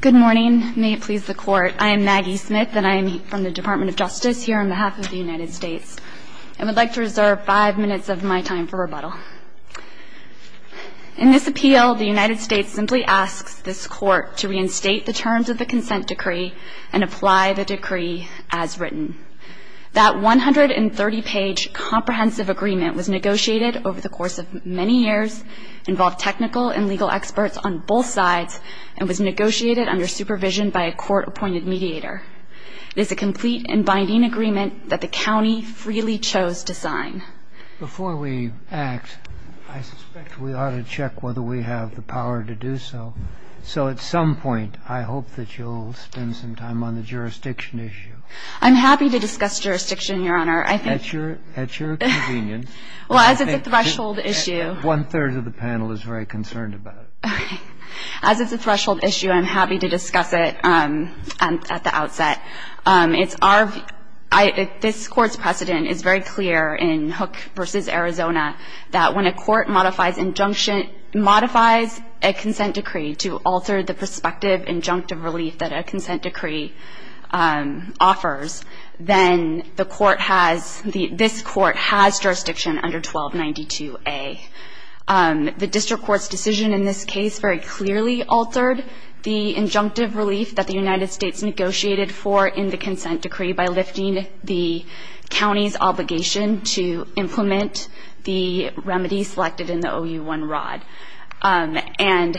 Good morning. May it please the Court. I am Maggie Smith and I am from the Department of Justice here on behalf of the United States. I would like to reserve five minutes of my time for rebuttal. In this appeal, the United States simply asks this Court to reinstate the terms of the consent decree and apply the decree as written. That 130-page comprehensive agreement was negotiated over the course of many years, involved technical and legal experts on both sides, and was negotiated under supervision by a Court-appointed mediator. It is a complete and binding agreement that the County freely chose to sign. Before we act, I suspect we ought to check whether we have the power to do so. So at some point, I hope that you'll spend some time on the jurisdiction issue. I'm happy to discuss jurisdiction, Your Honor. At your convenience. Well, as it's a threshold issue. One-third of the panel is very concerned about it. As it's a threshold issue, I'm happy to discuss it at the outset. It's our – this Court's precedent is very clear in Hook v. Arizona that when a court modifies injunction – modifies a consent decree to alter the prospective injunctive relief that a consent decree offers, then the court has – this Court has jurisdiction under 1292A. The District Court's decision in this case very clearly altered the injunctive relief that the United States negotiated for in the consent decree by lifting the County's obligation to implement the remedy selected in the OU-1 rod. And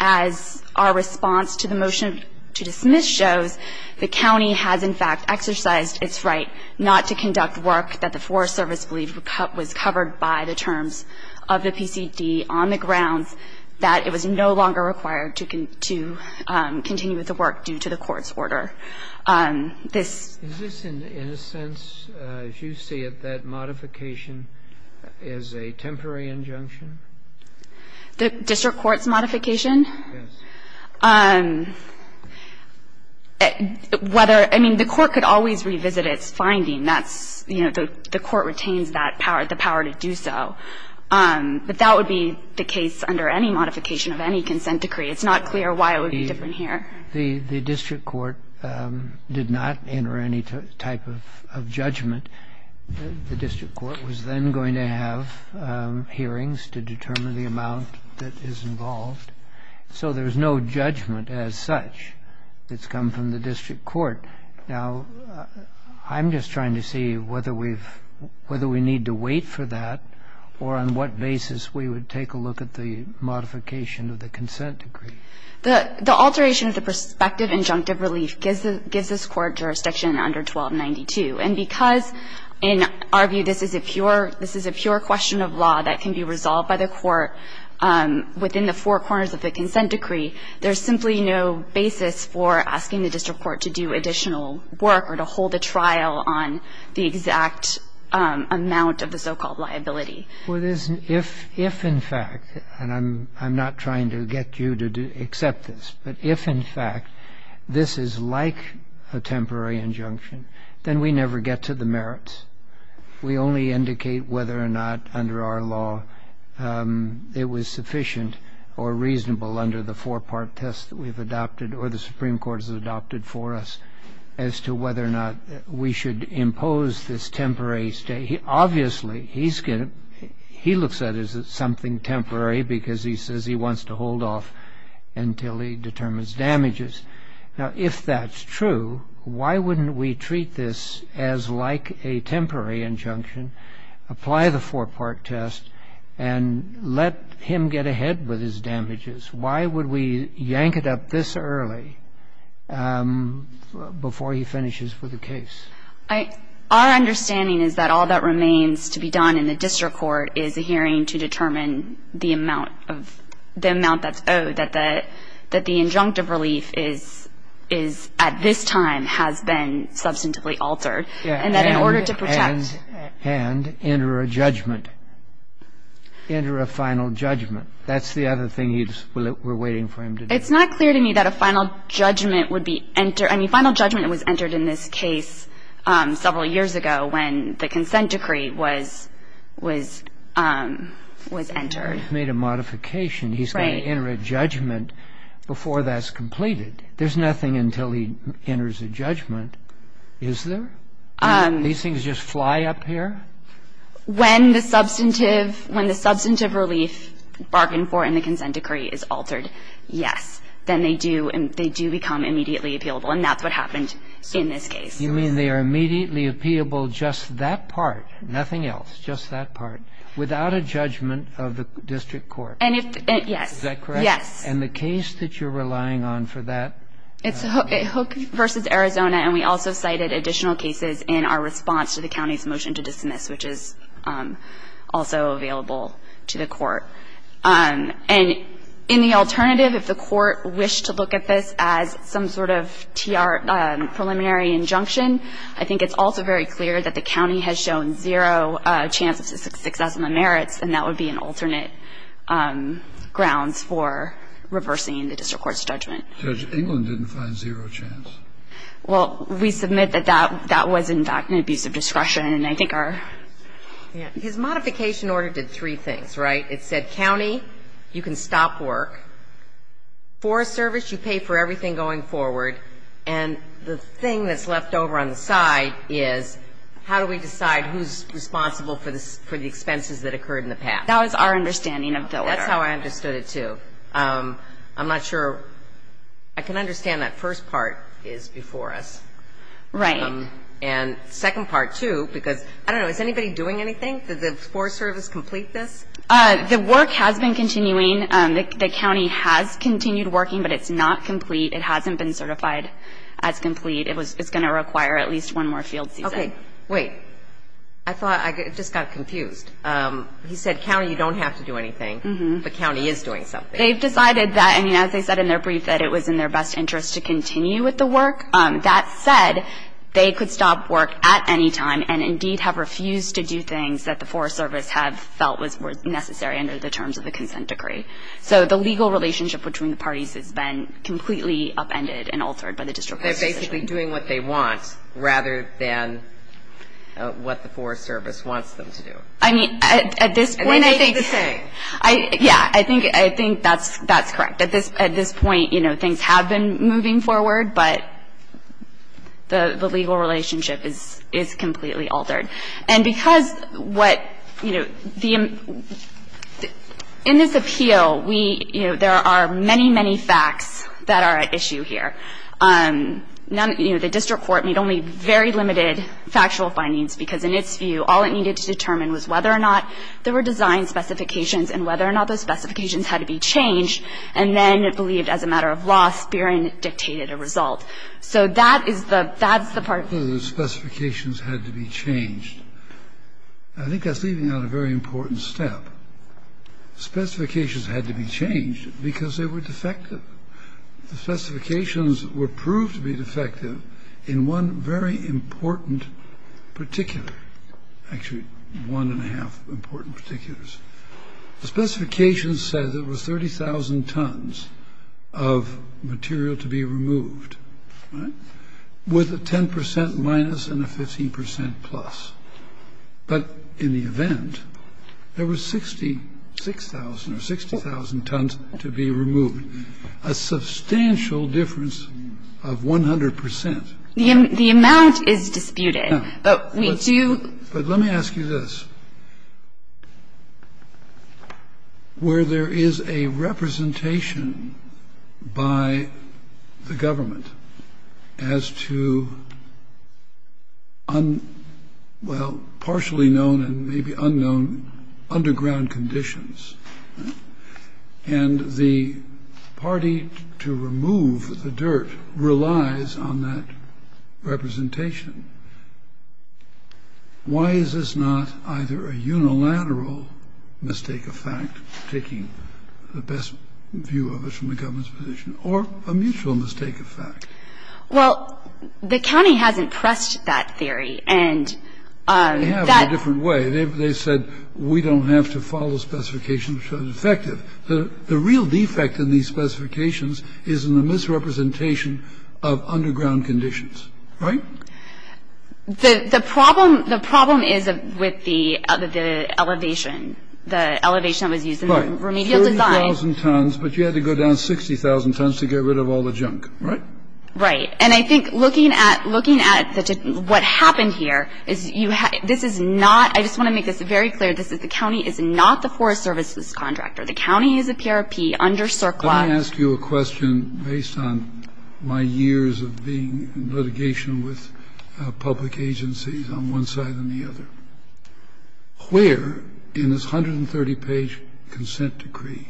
as our response to the motion to dismiss shows, the County has in fact exercised its right not to conduct work that the Forest Service believed was covered by the terms of the PCD on the grounds that it was no longer required to continue the work due to the Court's order. This – Is this in a sense, as you see it, that modification is a temporary injunction? The District Court's modification? Yes. Whether – I mean, the Court could always revisit its finding. That's – you know, the Court retains that power, the power to do so. But that would be the case under any modification of any consent decree. It's not clear why it would be different here. The District Court did not enter any type of judgment. The District Court was then going to have hearings to determine the amount that is involved. So there's no judgment as such that's come from the District Court. Now, I'm just trying to see whether we've – whether we need to wait for that or on what basis we would take a look at the modification of the consent decree. The alteration of the prospective injunctive relief gives this Court jurisdiction under Section 1292. And because, in our view, this is a pure – this is a pure question of law that can be resolved by the Court within the four corners of the consent decree, there's simply no basis for asking the District Court to do additional work or to hold a trial on the exact amount of the so-called liability. Well, there's – if, in fact, and I'm not trying to get you to accept this, but if, in fact, this is like a temporary injunction, then we never get to the merits. We only indicate whether or not, under our law, it was sufficient or reasonable under the four-part test that we've adopted or the Supreme Court has adopted for us as to whether or not we should impose this temporary stay. Obviously, he's going to – he looks at it as something temporary because he says he wants to hold off until he determines damages. Now, if that's true, why wouldn't we treat this as like a temporary injunction, apply the four-part test, and let him get ahead with his damages? Why would we yank it up this early before he finishes with the case? Our understanding is that all that remains to be done in the District Court is a hearing to determine the amount of – the amount that's owed, that the injunctive relief is – at this time has been substantively altered. And that in order to protect – And enter a judgment. Enter a final judgment. That's the other thing we're waiting for him to do. It's not clear to me that a final judgment would be – I mean, final judgment was entered in this case several years ago when the consent decree was – was entered. He's made a modification. Right. He's going to enter a judgment before that's completed. There's nothing until he enters a judgment, is there? These things just fly up here? When the substantive – when the substantive relief bargained for in the consent decree is altered, yes, then they do – they do become immediately appealable. And that's what happened in this case. You mean they are immediately appealable just that part, nothing else, just that part, without a judgment of the District Court? And if – yes. Is that correct? Yes. And the case that you're relying on for that? It's Hook v. Arizona, and we also cited additional cases in our response to the county's motion to dismiss, which is also available to the court. And in the alternative, if the court wished to look at this as some sort of T.R. preliminary injunction, I think it's also very clear that the county has shown zero chance of success in the merits, and that would be an alternate grounds for reversing the District Court's judgment. Judge, England didn't find zero chance. Well, we submit that that – that was, in fact, an abuse of discretion. And I think our – Yeah. His modification order did three things, right? It said, county, you can stop work. Forest Service, you pay for everything going forward. And the thing that's left over on the side is how do we decide who's responsible for the expenses that occurred in the past? That was our understanding of the order. That's how I understood it, too. I'm not sure – I can understand that first part is before us. Right. And second part, too, because – I don't know, is anybody doing anything? Did the Forest Service complete this? The work has been continuing. The county has continued working, but it's not complete. It hasn't been certified as complete. It was – it's going to require at least one more field season. Okay. Wait. I thought – I just got confused. He said, county, you don't have to do anything. Mm-hmm. But county is doing something. They've decided that – I mean, as they said in their brief, that it was in their best interest to continue with the work. That said, they could stop work at any time and, indeed, have refused to do things that the Forest Service have felt was necessary under the terms of the consent decree. So the legal relationship between the parties has been completely upended and altered by the district. They're basically doing what they want rather than what the Forest Service wants them to do. I mean, at this point – And they think the same. Yeah. I think that's correct. At this point, you know, things have been moving forward, but the legal relationship is completely altered. And because what, you know, the – in this appeal, we – you know, there are many, many facts that are at issue here. None – you know, the district court made only very limited factual findings because, in its view, all it needed to determine was whether or not there were design specifications and whether or not those specifications had to be changed, and then it believed, as a matter of law, Spiering dictated a result. So that is the – that's the part. The fact that the specifications had to be changed, I think that's leaving out a very important step. The specifications had to be changed because they were defective. The specifications were proved to be defective in one very important particular – actually, one and a half important particulars. The specifications said there were 30,000 tons of material to be removed, right, with a 10 percent minus and a 15 percent plus. But in the event, there were 66,000 or 60,000 tons to be removed, a substantial difference of 100 percent. The amount is disputed, but we do – But let me ask you this. Where there is a representation by the government as to un – well, partially known and maybe unknown underground conditions, and the party to remove the dirt relies on that representation, why is this not either a unilateral mistake of fact, taking the best view of it from the government's position, or a mutual mistake of fact? Well, the county hasn't pressed that theory, and that – They have in a different way. They said we don't have to follow specifications which are defective. The real defect in these specifications is in the misrepresentation of underground conditions, right? The problem is with the elevation, the elevation that was used in the remedial design. Right, 30,000 tons, but you had to go down 60,000 tons to get rid of all the junk, right? Right. And I think looking at such a – what happened here is you – this is not – I just want to make this very clear, this is – the county is not the Forest Service's contractor. The county is a PRP under CERCLA. Let me ask you a question based on my years of being in litigation with public agencies on one side and the other. Where in this 130-page consent decree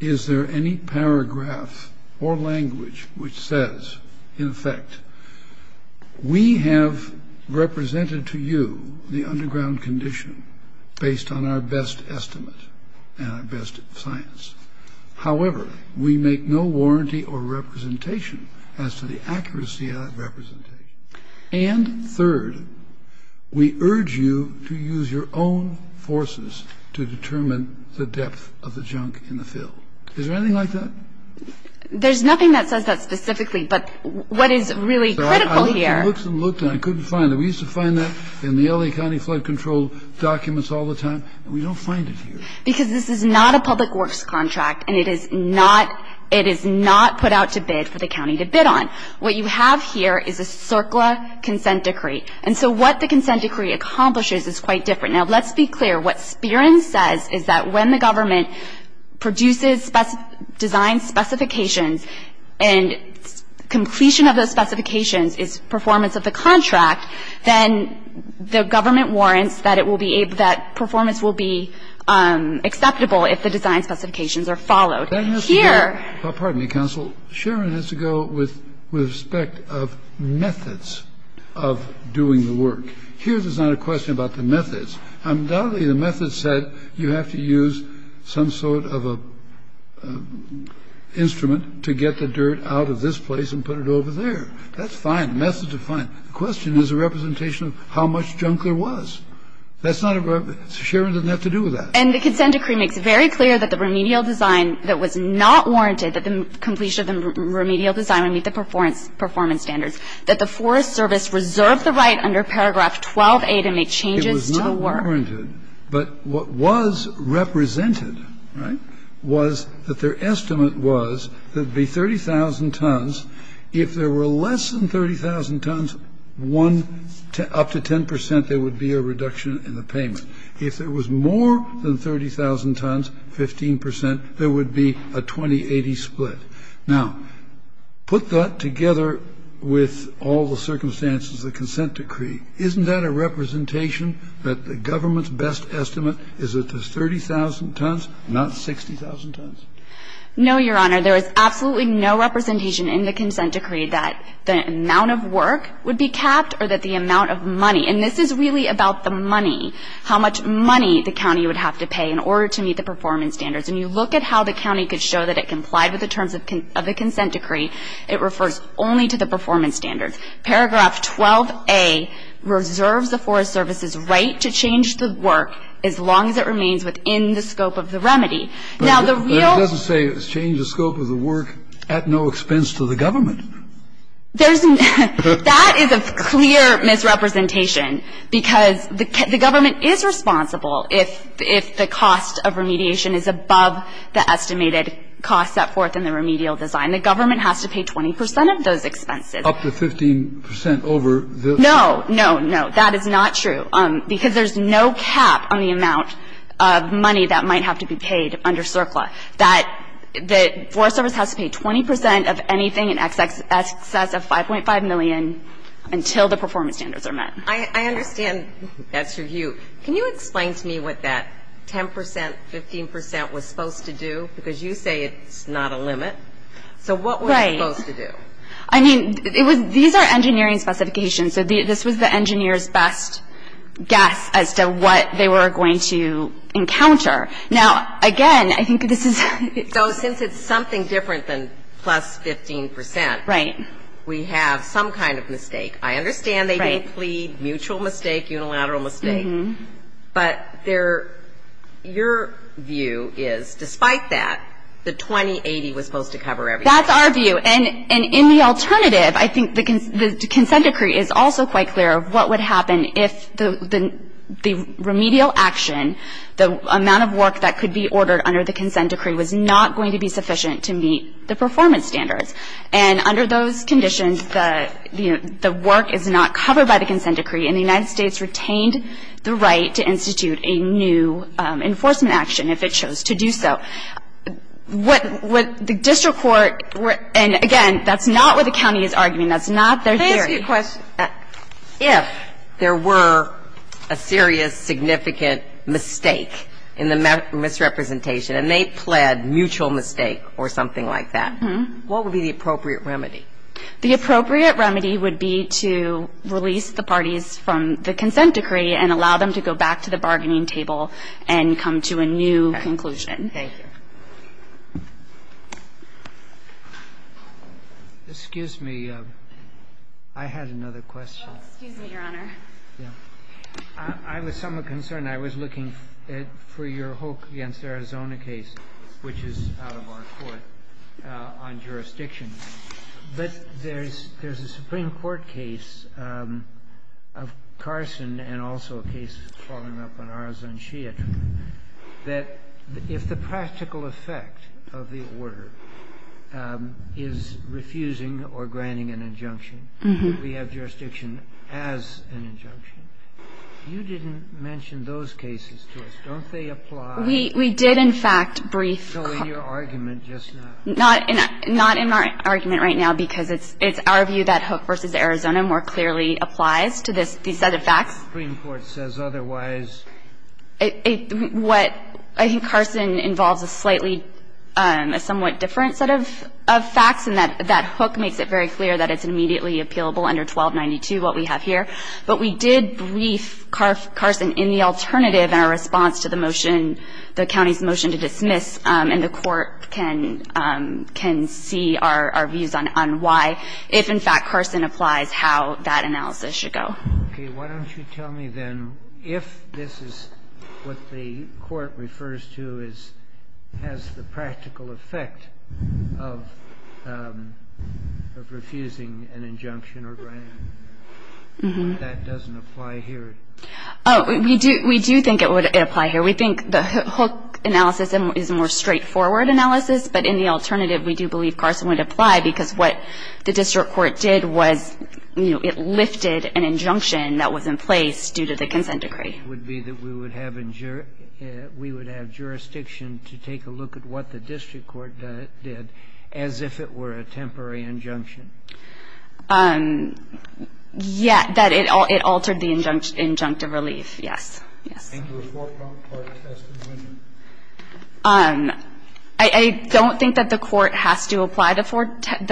is there any paragraph or language which says, in effect, we have represented to you the underground condition based on our best estimate and our best science. However, we make no warranty or representation as to the accuracy of that representation. And third, we urge you to use your own forces to determine the depth of the junk in the field. Is there anything like that? There's nothing that says that specifically, but what is really critical here – I looked and looked and I couldn't find it. We used to find that in the LA County Flood Control documents all the time, and we don't find it here. Because this is not a public works contract, and it is not put out to bid for the county to bid on. What you have here is a CERCLA consent decree. And so what the consent decree accomplishes is quite different. Now, let's be clear. What SPIRN says is that when the government produces design specifications and completion of those specifications is performance of the contract, then the government warrants that performance will be acceptable if the design specifications are followed. Here – Pardon me, counsel. Sharon has to go with respect of methods of doing the work. Here there's not a question about the methods. Undoubtedly, the methods said you have to use some sort of an instrument to get the dirt out of this place and put it over there. That's fine. Methods are fine. The question is a representation of how much junk there was. That's not a – Sharon doesn't have to do with that. And the consent decree makes very clear that the remedial design that was not warranted that the completion of the remedial design would meet the performance standards, that the Forest Service reserved the right under paragraph 12a to make changes to the work. It was not warranted. But what was represented, right, was that their estimate was there would be 30,000 tons. If there were less than 30,000 tons, up to 10 percent there would be a reduction in the payment. If there was more than 30,000 tons, 15 percent, there would be a 20-80 split. Now, put that together with all the circumstances of the consent decree, isn't that a representation that the government's best estimate is that there's 30,000 tons, not 60,000 tons? No, Your Honor. There is absolutely no representation in the consent decree that the amount of work would be capped or that the amount of money – and this is really about the money, how much money the county would have to pay in order to meet the performance standards. When you look at how the county could show that it complied with the terms of the consent decree, it refers only to the performance standards. Paragraph 12a reserves the Forest Service's right to change the work as long as it remains within the scope of the remedy. Now, the real – But it doesn't say change the scope of the work at no expense to the government. There's – that is a clear misrepresentation because the government is responsible if the cost of remediation is above the estimated cost set forth in the remedial design. The government has to pay 20 percent of those expenses. Up to 15 percent over the – No, no, no. But that is not true because there's no cap on the amount of money that might have to be paid under CERCLA, that the Forest Service has to pay 20 percent of anything in excess of 5.5 million until the performance standards are met. I understand that's your view. Can you explain to me what that 10 percent, 15 percent was supposed to do? Because you say it's not a limit. So what was it supposed to do? I mean, it was – these are engineering specifications. So this was the engineer's best guess as to what they were going to encounter. Now, again, I think this is – So since it's something different than plus 15 percent, we have some kind of mistake. I understand they didn't plead mutual mistake, unilateral mistake. But their – your view is, despite that, the 2080 was supposed to cover everything. That's our view. And in the alternative, I think the consent decree is also quite clear of what would happen if the remedial action, the amount of work that could be ordered under the consent decree was not going to be sufficient to meet the performance standards. And under those conditions, the work is not covered by the consent decree, and the United States retained the right to institute a new enforcement action if it chose to do so. So what the district court – and, again, that's not what the county is arguing. That's not their theory. Can I ask you a question? If there were a serious, significant mistake in the misrepresentation and they pled mutual mistake or something like that, what would be the appropriate remedy? The appropriate remedy would be to release the parties from the consent decree and allow them to go back to the bargaining table and come to a new conclusion. Thank you. Excuse me. I had another question. Oh, excuse me, Your Honor. Yeah. I was somewhat concerned. I was looking for your Hoke v. Arizona case, which is out of our court, on jurisdiction. But there's a Supreme Court case of Carson and also a case following up on Arizona I mean, I think it's important to understand, and I think it's important to enunciate, that if the practical effect of the order is refusing or granting an injunction, we have jurisdiction as an injunction. You didn't mention those cases to us. Don't they apply? We did, in fact, brief. So in your argument just now. Not in my argument right now, because it's our view that Hoke v. Arizona more clearly applies to this set of facts. The Supreme Court says otherwise. What I think Carson involves a slightly, a somewhat different set of facts, and that Hoke makes it very clear that it's immediately appealable under 1292, what we have here. But we did brief Carson in the alternative in our response to the motion, the county's motion to dismiss, and the Court can see our views on why, if, in fact, Carson applies, how that analysis should go. Okay. Why don't you tell me, then, if this is what the Court refers to as has the practical effect of refusing an injunction or granting an injunction, why that doesn't apply here? Oh, we do think it would apply here. We think the Hoke analysis is a more straightforward analysis, but in the alternative we do believe Carson would apply because what the district court did was, you know, it lifted an injunction that was in place due to the consent decree. Would be that we would have jurisdiction to take a look at what the district court did as if it were a temporary injunction? Yeah, that it altered the injunctive relief, yes. Yes. I think the Court has to apply the four-part test. I don't think that the Court has to apply the four-part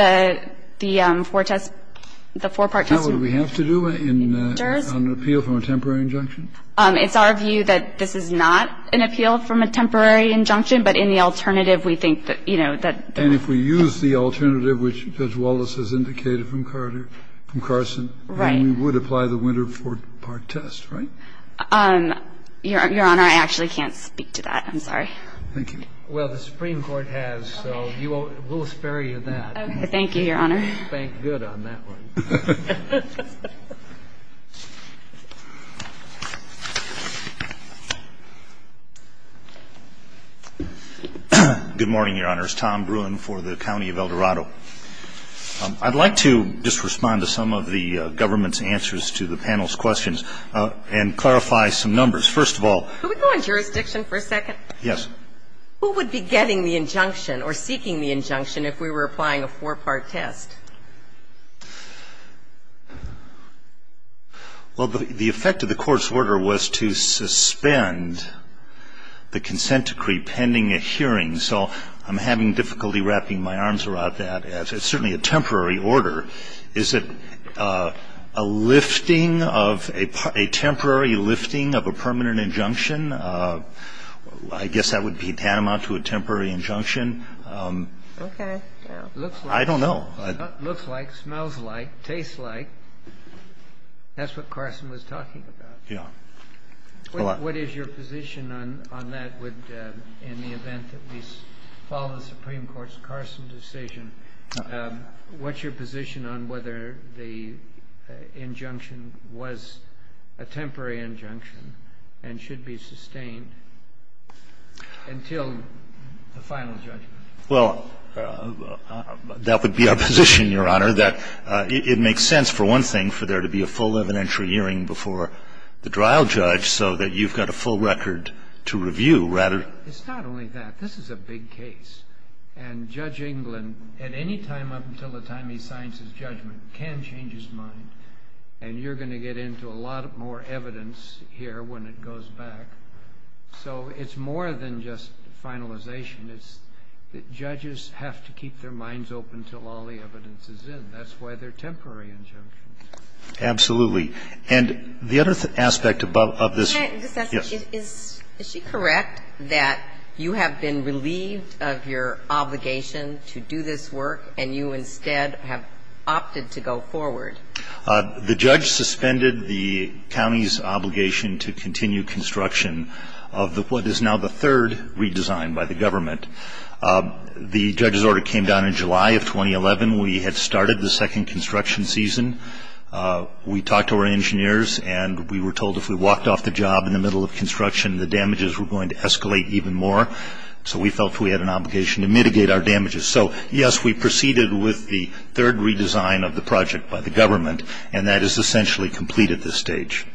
test. The four-part test would be in the winter. Now would we have to do that in an appeal from a temporary injunction? It's our view that this is not an appeal from a temporary injunction, but in the alternative we think that, you know, that the one. And if we use the alternative, which Judge Wallace has indicated from Carter, from Carson, then we would apply the winter four-part test, right? Your Honor, I actually can't speak to that. I'm sorry. Thank you. Well, the Supreme Court has, so we'll spare you that. Okay. Thank you, Your Honor. You spanked good on that one. Good morning, Your Honors. Tom Bruin for the County of El Dorado. I'd like to just respond to some of the government's answers to the panel's questions. And clarify some numbers. First of all. Could we go on jurisdiction for a second? Yes. Who would be getting the injunction or seeking the injunction if we were applying a four-part test? Well, the effect of the Court's order was to suspend the consent decree pending a hearing. So I'm having difficulty wrapping my arms around that. It's certainly a temporary order. Is it a lifting of a temporary lifting of a permanent injunction? I guess that would be tantamount to a temporary injunction. Okay. I don't know. Looks like, smells like, tastes like. That's what Carson was talking about. Yeah. What is your position on that in the event that we follow the Supreme Court's Carson decision? What's your position on whether the injunction was a temporary injunction and should be sustained until the final judgment? Well, that would be our position, Your Honor, that it makes sense, for one thing, for there to be a full evidentiary hearing before the trial judge so that you've got a full record to review rather than to review. It's not only that. This is a big case. And Judge England, at any time up until the time he signs his judgment, can change his mind. And you're going to get into a lot more evidence here when it goes back. So it's more than just finalization. It's that judges have to keep their minds open until all the evidence is in. That's why they're temporary injunctions. Absolutely. And the other aspect of this. Can I just ask, is she correct that you have been relieved of your obligation to do this work and you instead have opted to go forward? The judge suspended the county's obligation to continue construction of what is now the third redesign by the government. The judge's order came down in July of 2011. We had started the second construction season. We talked to our engineers and we were told if we walked off the job in the middle of construction, the damages were going to escalate even more. So we felt we had an obligation to mitigate our damages. So, yes, we proceeded with the third redesign of the project by the government, and that is essentially complete at this stage.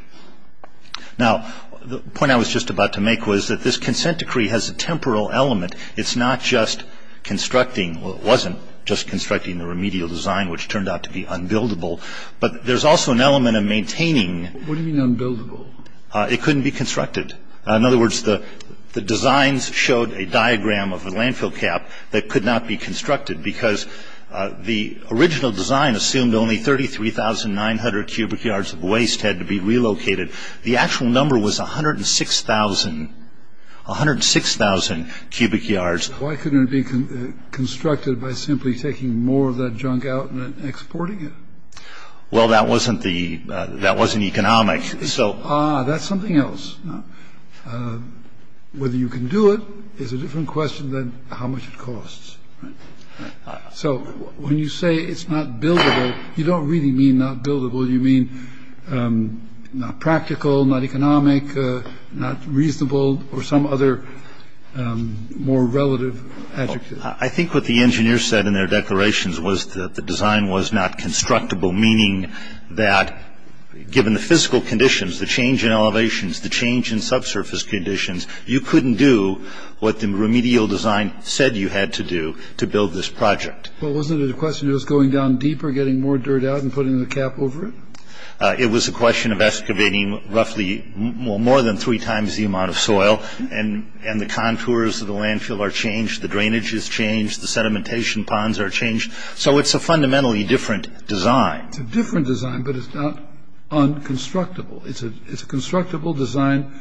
Now, the point I was just about to make was that this consent decree has a temporal element. It's not just constructing or it wasn't just constructing the remedial design, which turned out to be unbuildable, but there's also an element of maintaining. What do you mean unbuildable? It couldn't be constructed. In other words, the designs showed a diagram of a landfill cap that could not be constructed because the original design assumed only 33,900 cubic yards of waste had to be relocated. The actual number was 106,000. 106,000 cubic yards. Why couldn't it be constructed by simply taking more of that junk out and exporting it? Well, that wasn't the that wasn't economic. So that's something else. Whether you can do it is a different question than how much it costs. So when you say it's not buildable, you don't really mean not buildable. You mean not practical, not economic, not reasonable or some other more relative. I think what the engineer said in their declarations was that the design was not constructible, meaning that given the physical conditions, the change in elevations, the change in subsurface conditions, you couldn't do what the remedial design said you had to do to build this project. Well, wasn't it a question of us going down deeper, getting more dirt out and putting the cap over it? It was a question of excavating roughly more than three times the amount of soil. And the contours of the landfill are changed. The drainage is changed. The sedimentation ponds are changed. So it's a fundamentally different design. It's a different design, but it's not unconstructible. It's a constructible design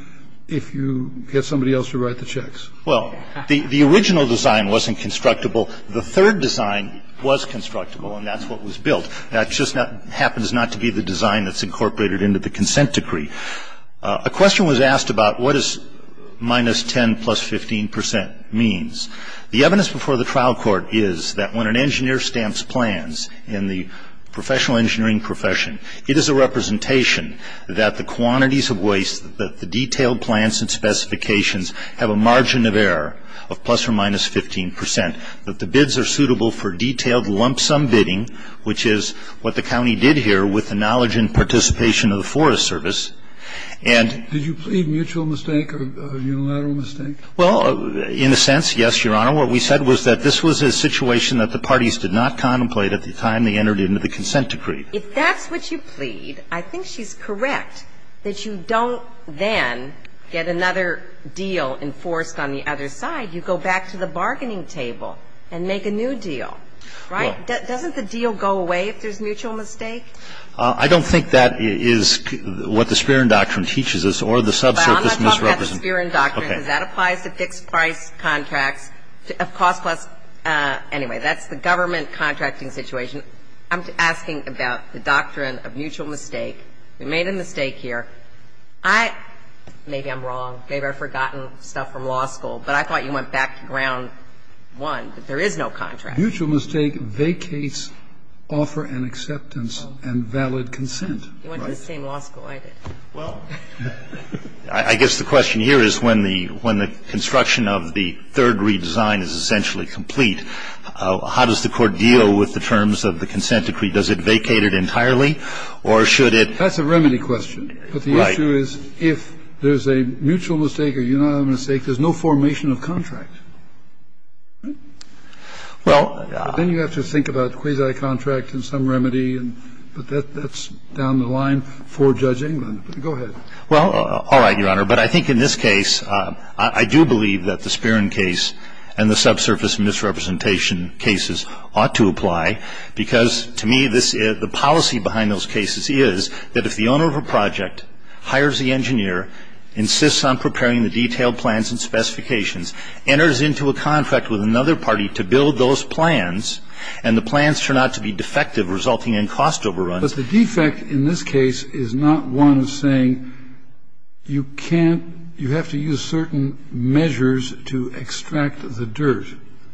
if you get somebody else to write the checks. Well, the original design wasn't constructible. The third design was constructible, and that's what was built. That just happens not to be the design that's incorporated into the consent decree. A question was asked about what is minus 10 plus 15 percent means. The evidence before the trial court is that when an engineer stamps plans in the professional engineering profession, it is a representation that the quantities of waste, that the detailed plans and specifications have a margin of error of plus or minus 15 percent, that the bids are suitable for detailed lump sum bidding, which is what the county did here with the knowledge and participation of the Forest Service. And ---- Did you plead mutual mistake or unilateral mistake? Well, in a sense, yes, Your Honor. What we said was that this was a situation that the parties did not contemplate at the time they entered into the consent decree. If that's what you plead, I think she's correct that you don't then get another deal enforced on the other side. You go back to the bargaining table and make a new deal. Right? Doesn't the deal go away if there's mutual mistake? I don't think that is what the Spear and Doctrine teaches us, or the subsurface misrepresentation. Well, I'm not talking about the Spear and Doctrine, because that applies to fixed-price contracts of cost plus ---- anyway, that's the government contracting situation. I'm asking about the doctrine of mutual mistake. We made a mistake here. I ---- maybe I'm wrong. Maybe I've forgotten stuff from law school, but I thought you went back to ground one, that there is no contract. Mutual mistake vacates offer and acceptance and valid consent. You went to the same law school I did. Well, I guess the question here is when the construction of the third redesign is essentially complete, how does the Court deal with the terms of the consent decree? Does it vacate it entirely, or should it ---- That's a remedy question. Right. But the issue is if there's a mutual mistake or a unanimous mistake, there's no formation of contract. Well ---- Then you have to think about quasi-contract and some remedy, but that's down the line for Judge England. Go ahead. Well, all right, Your Honor. But I think in this case, I do believe that the Spirin case and the subsurface misrepresentation cases ought to apply, because to me, the policy behind those cases is that if the owner of a project hires the engineer, insists on preparing the detailed plans and specifications, enters into a contract with another party to build those plans, and the plans turn out to be defective, resulting in cost overruns ---- But the defect in this case is not one of saying you can't ---- you have to use certain measures to extract the dirt.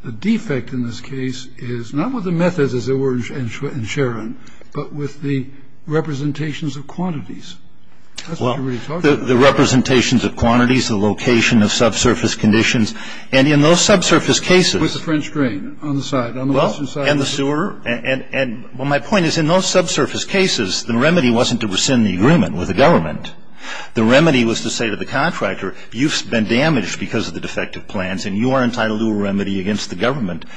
The defect in this case is not with the methods, as there were in Sharon, but with the representations of quantities. That's what you're really talking about. Well, the representations of quantities, the location of subsurface conditions, and in those subsurface cases ---- With the French drain on the side, on the western side ---- Well, my point is in those subsurface cases, the remedy wasn't to rescind the agreement with the government. The remedy was to say to the contractor, you've been damaged because of the defective plans, and you are entitled to a remedy against the government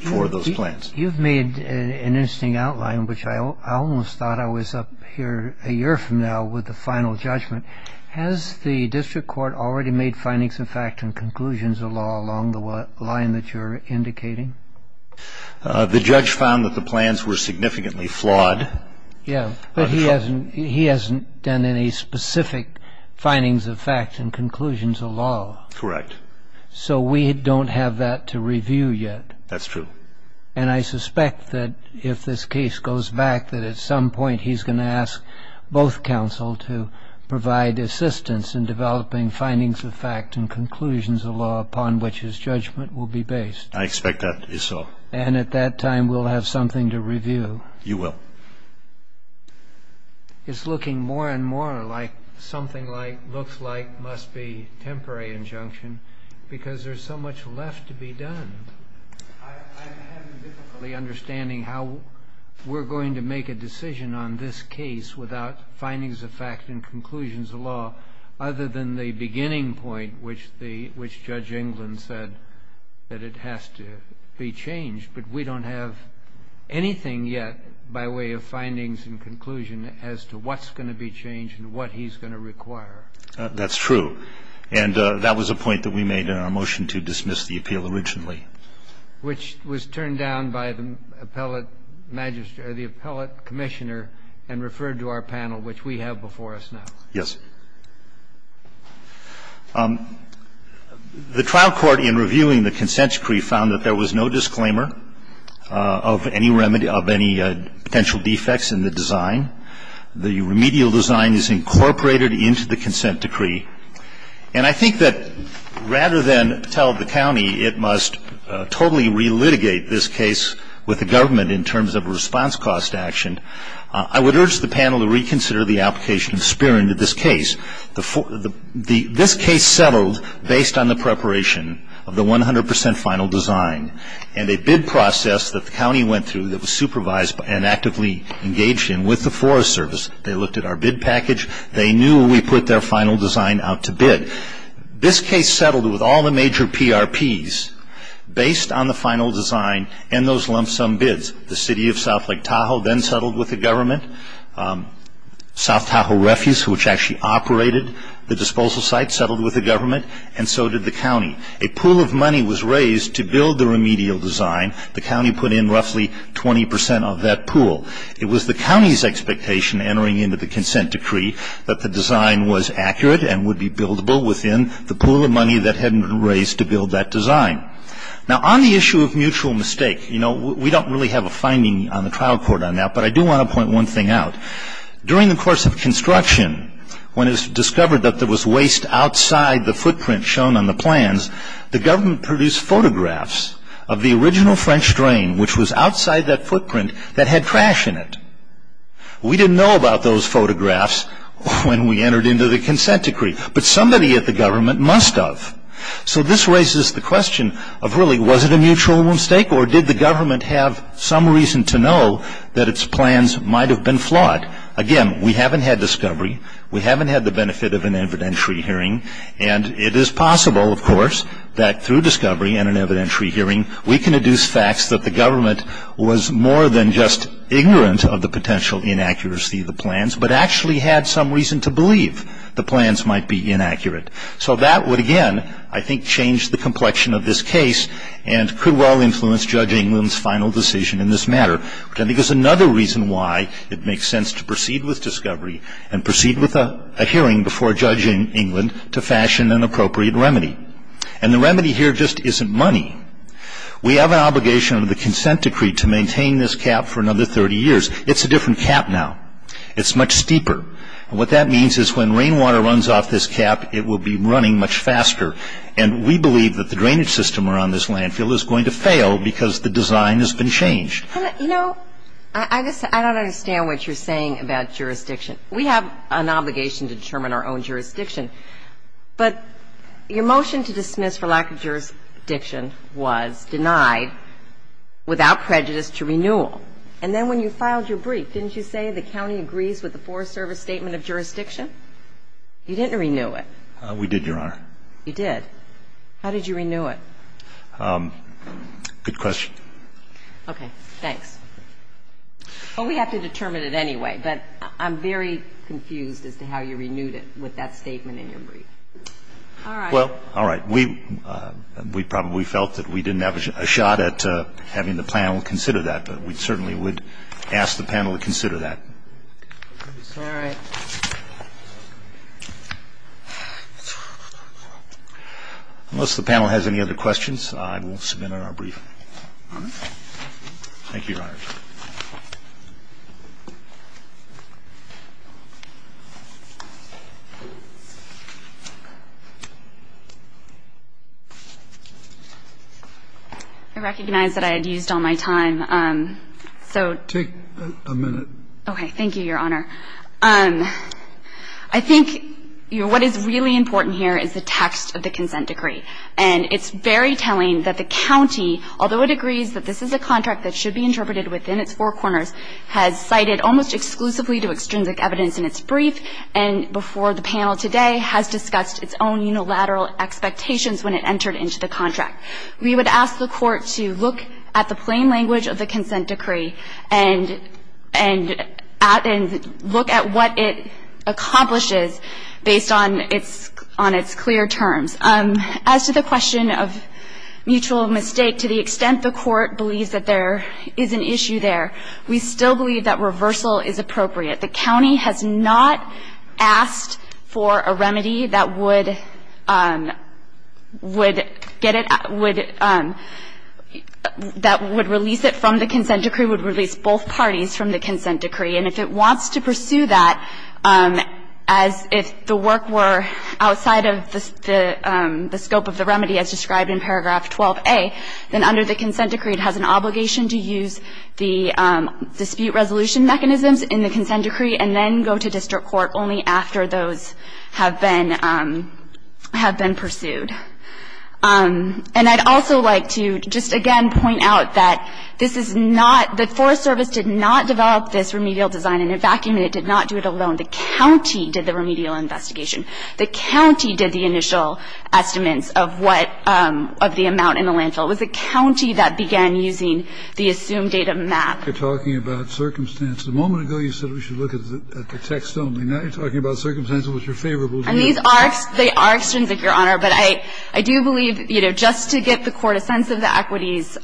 for those plans. You've made an interesting outline, which I almost thought I was up here a year from now with the final judgment. Has the district court already made findings of fact and conclusions of law along the line that you're indicating? The judge found that the plans were significantly flawed. Yeah, but he hasn't done any specific findings of fact and conclusions of law. Correct. So we don't have that to review yet. That's true. And I suspect that if this case goes back, that at some point he's going to ask both counsel to provide assistance in developing findings of fact and conclusions of law upon which his judgment will be based. I expect that to be so. And at that time we'll have something to review. You will. It's looking more and more like something looks like must be temporary injunction because there's so much left to be done. I'm having difficulty understanding how we're going to make a decision on this case without findings of fact and conclusions of law other than the beginning point, which Judge England said that it has to be changed. But we don't have anything yet by way of findings and conclusion as to what's going to be changed and what he's going to require. That's true. And that was a point that we made in our motion to dismiss the appeal originally. Which was turned down by the appellate commissioner and referred to our panel, which we have before us now. Yes. The trial court in reviewing the consent decree found that there was no disclaimer of any remedy of any potential defects in the design. The remedial design is incorporated into the consent decree. And I think that rather than tell the county it must totally relitigate this case with the government in terms of a response cost action, I would urge the panel to reconsider the application of Speer into this case. This case settled based on the preparation of the 100% final design and a bid process that the county went through that was supervised and actively engaged in with the Forest Service. They looked at our bid package. They knew we put their final design out to bid. This case settled with all the major PRPs based on the final design and those lump sum bids. The city of South Lake Tahoe then settled with the government. South Tahoe Refuse, which actually operated the disposal site, settled with the government. And so did the county. A pool of money was raised to build the remedial design. The county put in roughly 20% of that pool. It was the county's expectation entering into the consent decree that the design was accurate and would be buildable within the pool of money that had been raised to build that design. Now, on the issue of mutual mistake, you know, we don't really have a finding on the trial court on that, but I do want to point one thing out. During the course of construction, when it was discovered that there was waste outside the footprint shown on the plans, the government produced photographs of the original French drain, which was outside that footprint, that had trash in it. We didn't know about those photographs when we entered into the consent decree, but somebody at the government must have. So this raises the question of, really, was it a mutual mistake, or did the government have some reason to know that its plans might have been flawed? Again, we haven't had discovery. We haven't had the benefit of an evidentiary hearing. And it is possible, of course, that through discovery and an evidentiary hearing, we can deduce facts that the government was more than just ignorant of the potential inaccuracy of the plans, but actually had some reason to believe the plans might be inaccurate. So that would, again, I think change the complexion of this case and could well influence Judge England's final decision in this matter, which I think is another reason why it makes sense to proceed with discovery and proceed with a hearing before Judge England to fashion an appropriate remedy. And the remedy here just isn't money. We have an obligation under the consent decree to maintain this cap for another 30 years. It's a different cap now. It's much steeper. And what that means is when rainwater runs off this cap, it will be running much faster. And we believe that the drainage system around this landfill is going to fail because the design has been changed. You know, I don't understand what you're saying about jurisdiction. We have an obligation to determine our own jurisdiction. But your motion to dismiss for lack of jurisdiction was denied without prejudice to renewal. And then when you filed your brief, didn't you say the county agrees with the Forest Service Statement of Jurisdiction? You didn't renew it. We did, Your Honor. You did. How did you renew it? Good question. Okay. Thanks. Well, we have to determine it anyway, but I'm very confused as to how you renewed it with that statement in your brief. All right. Well, all right. We probably felt that we didn't have a shot at having the panel consider that, but we certainly would ask the panel to consider that. All right. Unless the panel has any other questions, I will submit our brief. Thank you, Your Honor. I recognize that I had used all my time, so to take a minute. Okay. Thank you, Your Honor. I think what is really important here is the text of the consent decree. And it's very telling that the county, although it agrees that this is a contract that should be interpreted within its four corners, has cited almost exclusively to extrinsic evidence in its brief and before the panel today has discussed its own unilateral expectations when it entered into the contract. We would ask the court to look at the plain language of the consent decree and look at what it accomplishes based on its clear terms. As to the question of mutual mistake, to the extent the court believes that there is an issue there, we still believe that reversal is appropriate. The county has not asked for a remedy that would get it, that would release it from the consent decree, would release both parties from the consent decree. And if it wants to pursue that as if the work were outside of the scope of the remedy as described in paragraph 12A, then under the consent decree it has an obligation to use the dispute resolution mechanisms in the consent decree and then go to district court only after those have been pursued. And I'd also like to just, again, point out that this is not the Forest Service did not develop this remedial design and in fact it did not do it alone. The county did the remedial investigation. The county did the initial estimates of what, of the amount in the landfill. It was the county that began using the assumed data map. Kennedy. You're talking about circumstances. A moment ago you said we should look at the text only. Now you're talking about circumstances which are favorable to you. Well, these are, they are extrinsic, Your Honor. But I do believe, you know, just to get the Court a sense of the equities,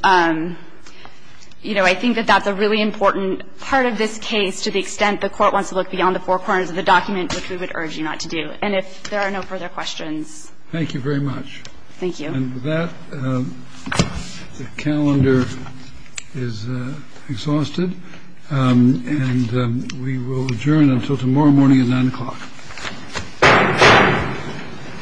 you know, I think that that's a really important part of this case to the extent the Court wants to look beyond the four corners of the document, which we would urge you not to do. And if there are no further questions. Thank you very much. Thank you. And with that, the calendar is exhausted. And we will adjourn until tomorrow morning at 9 o'clock. Thank you.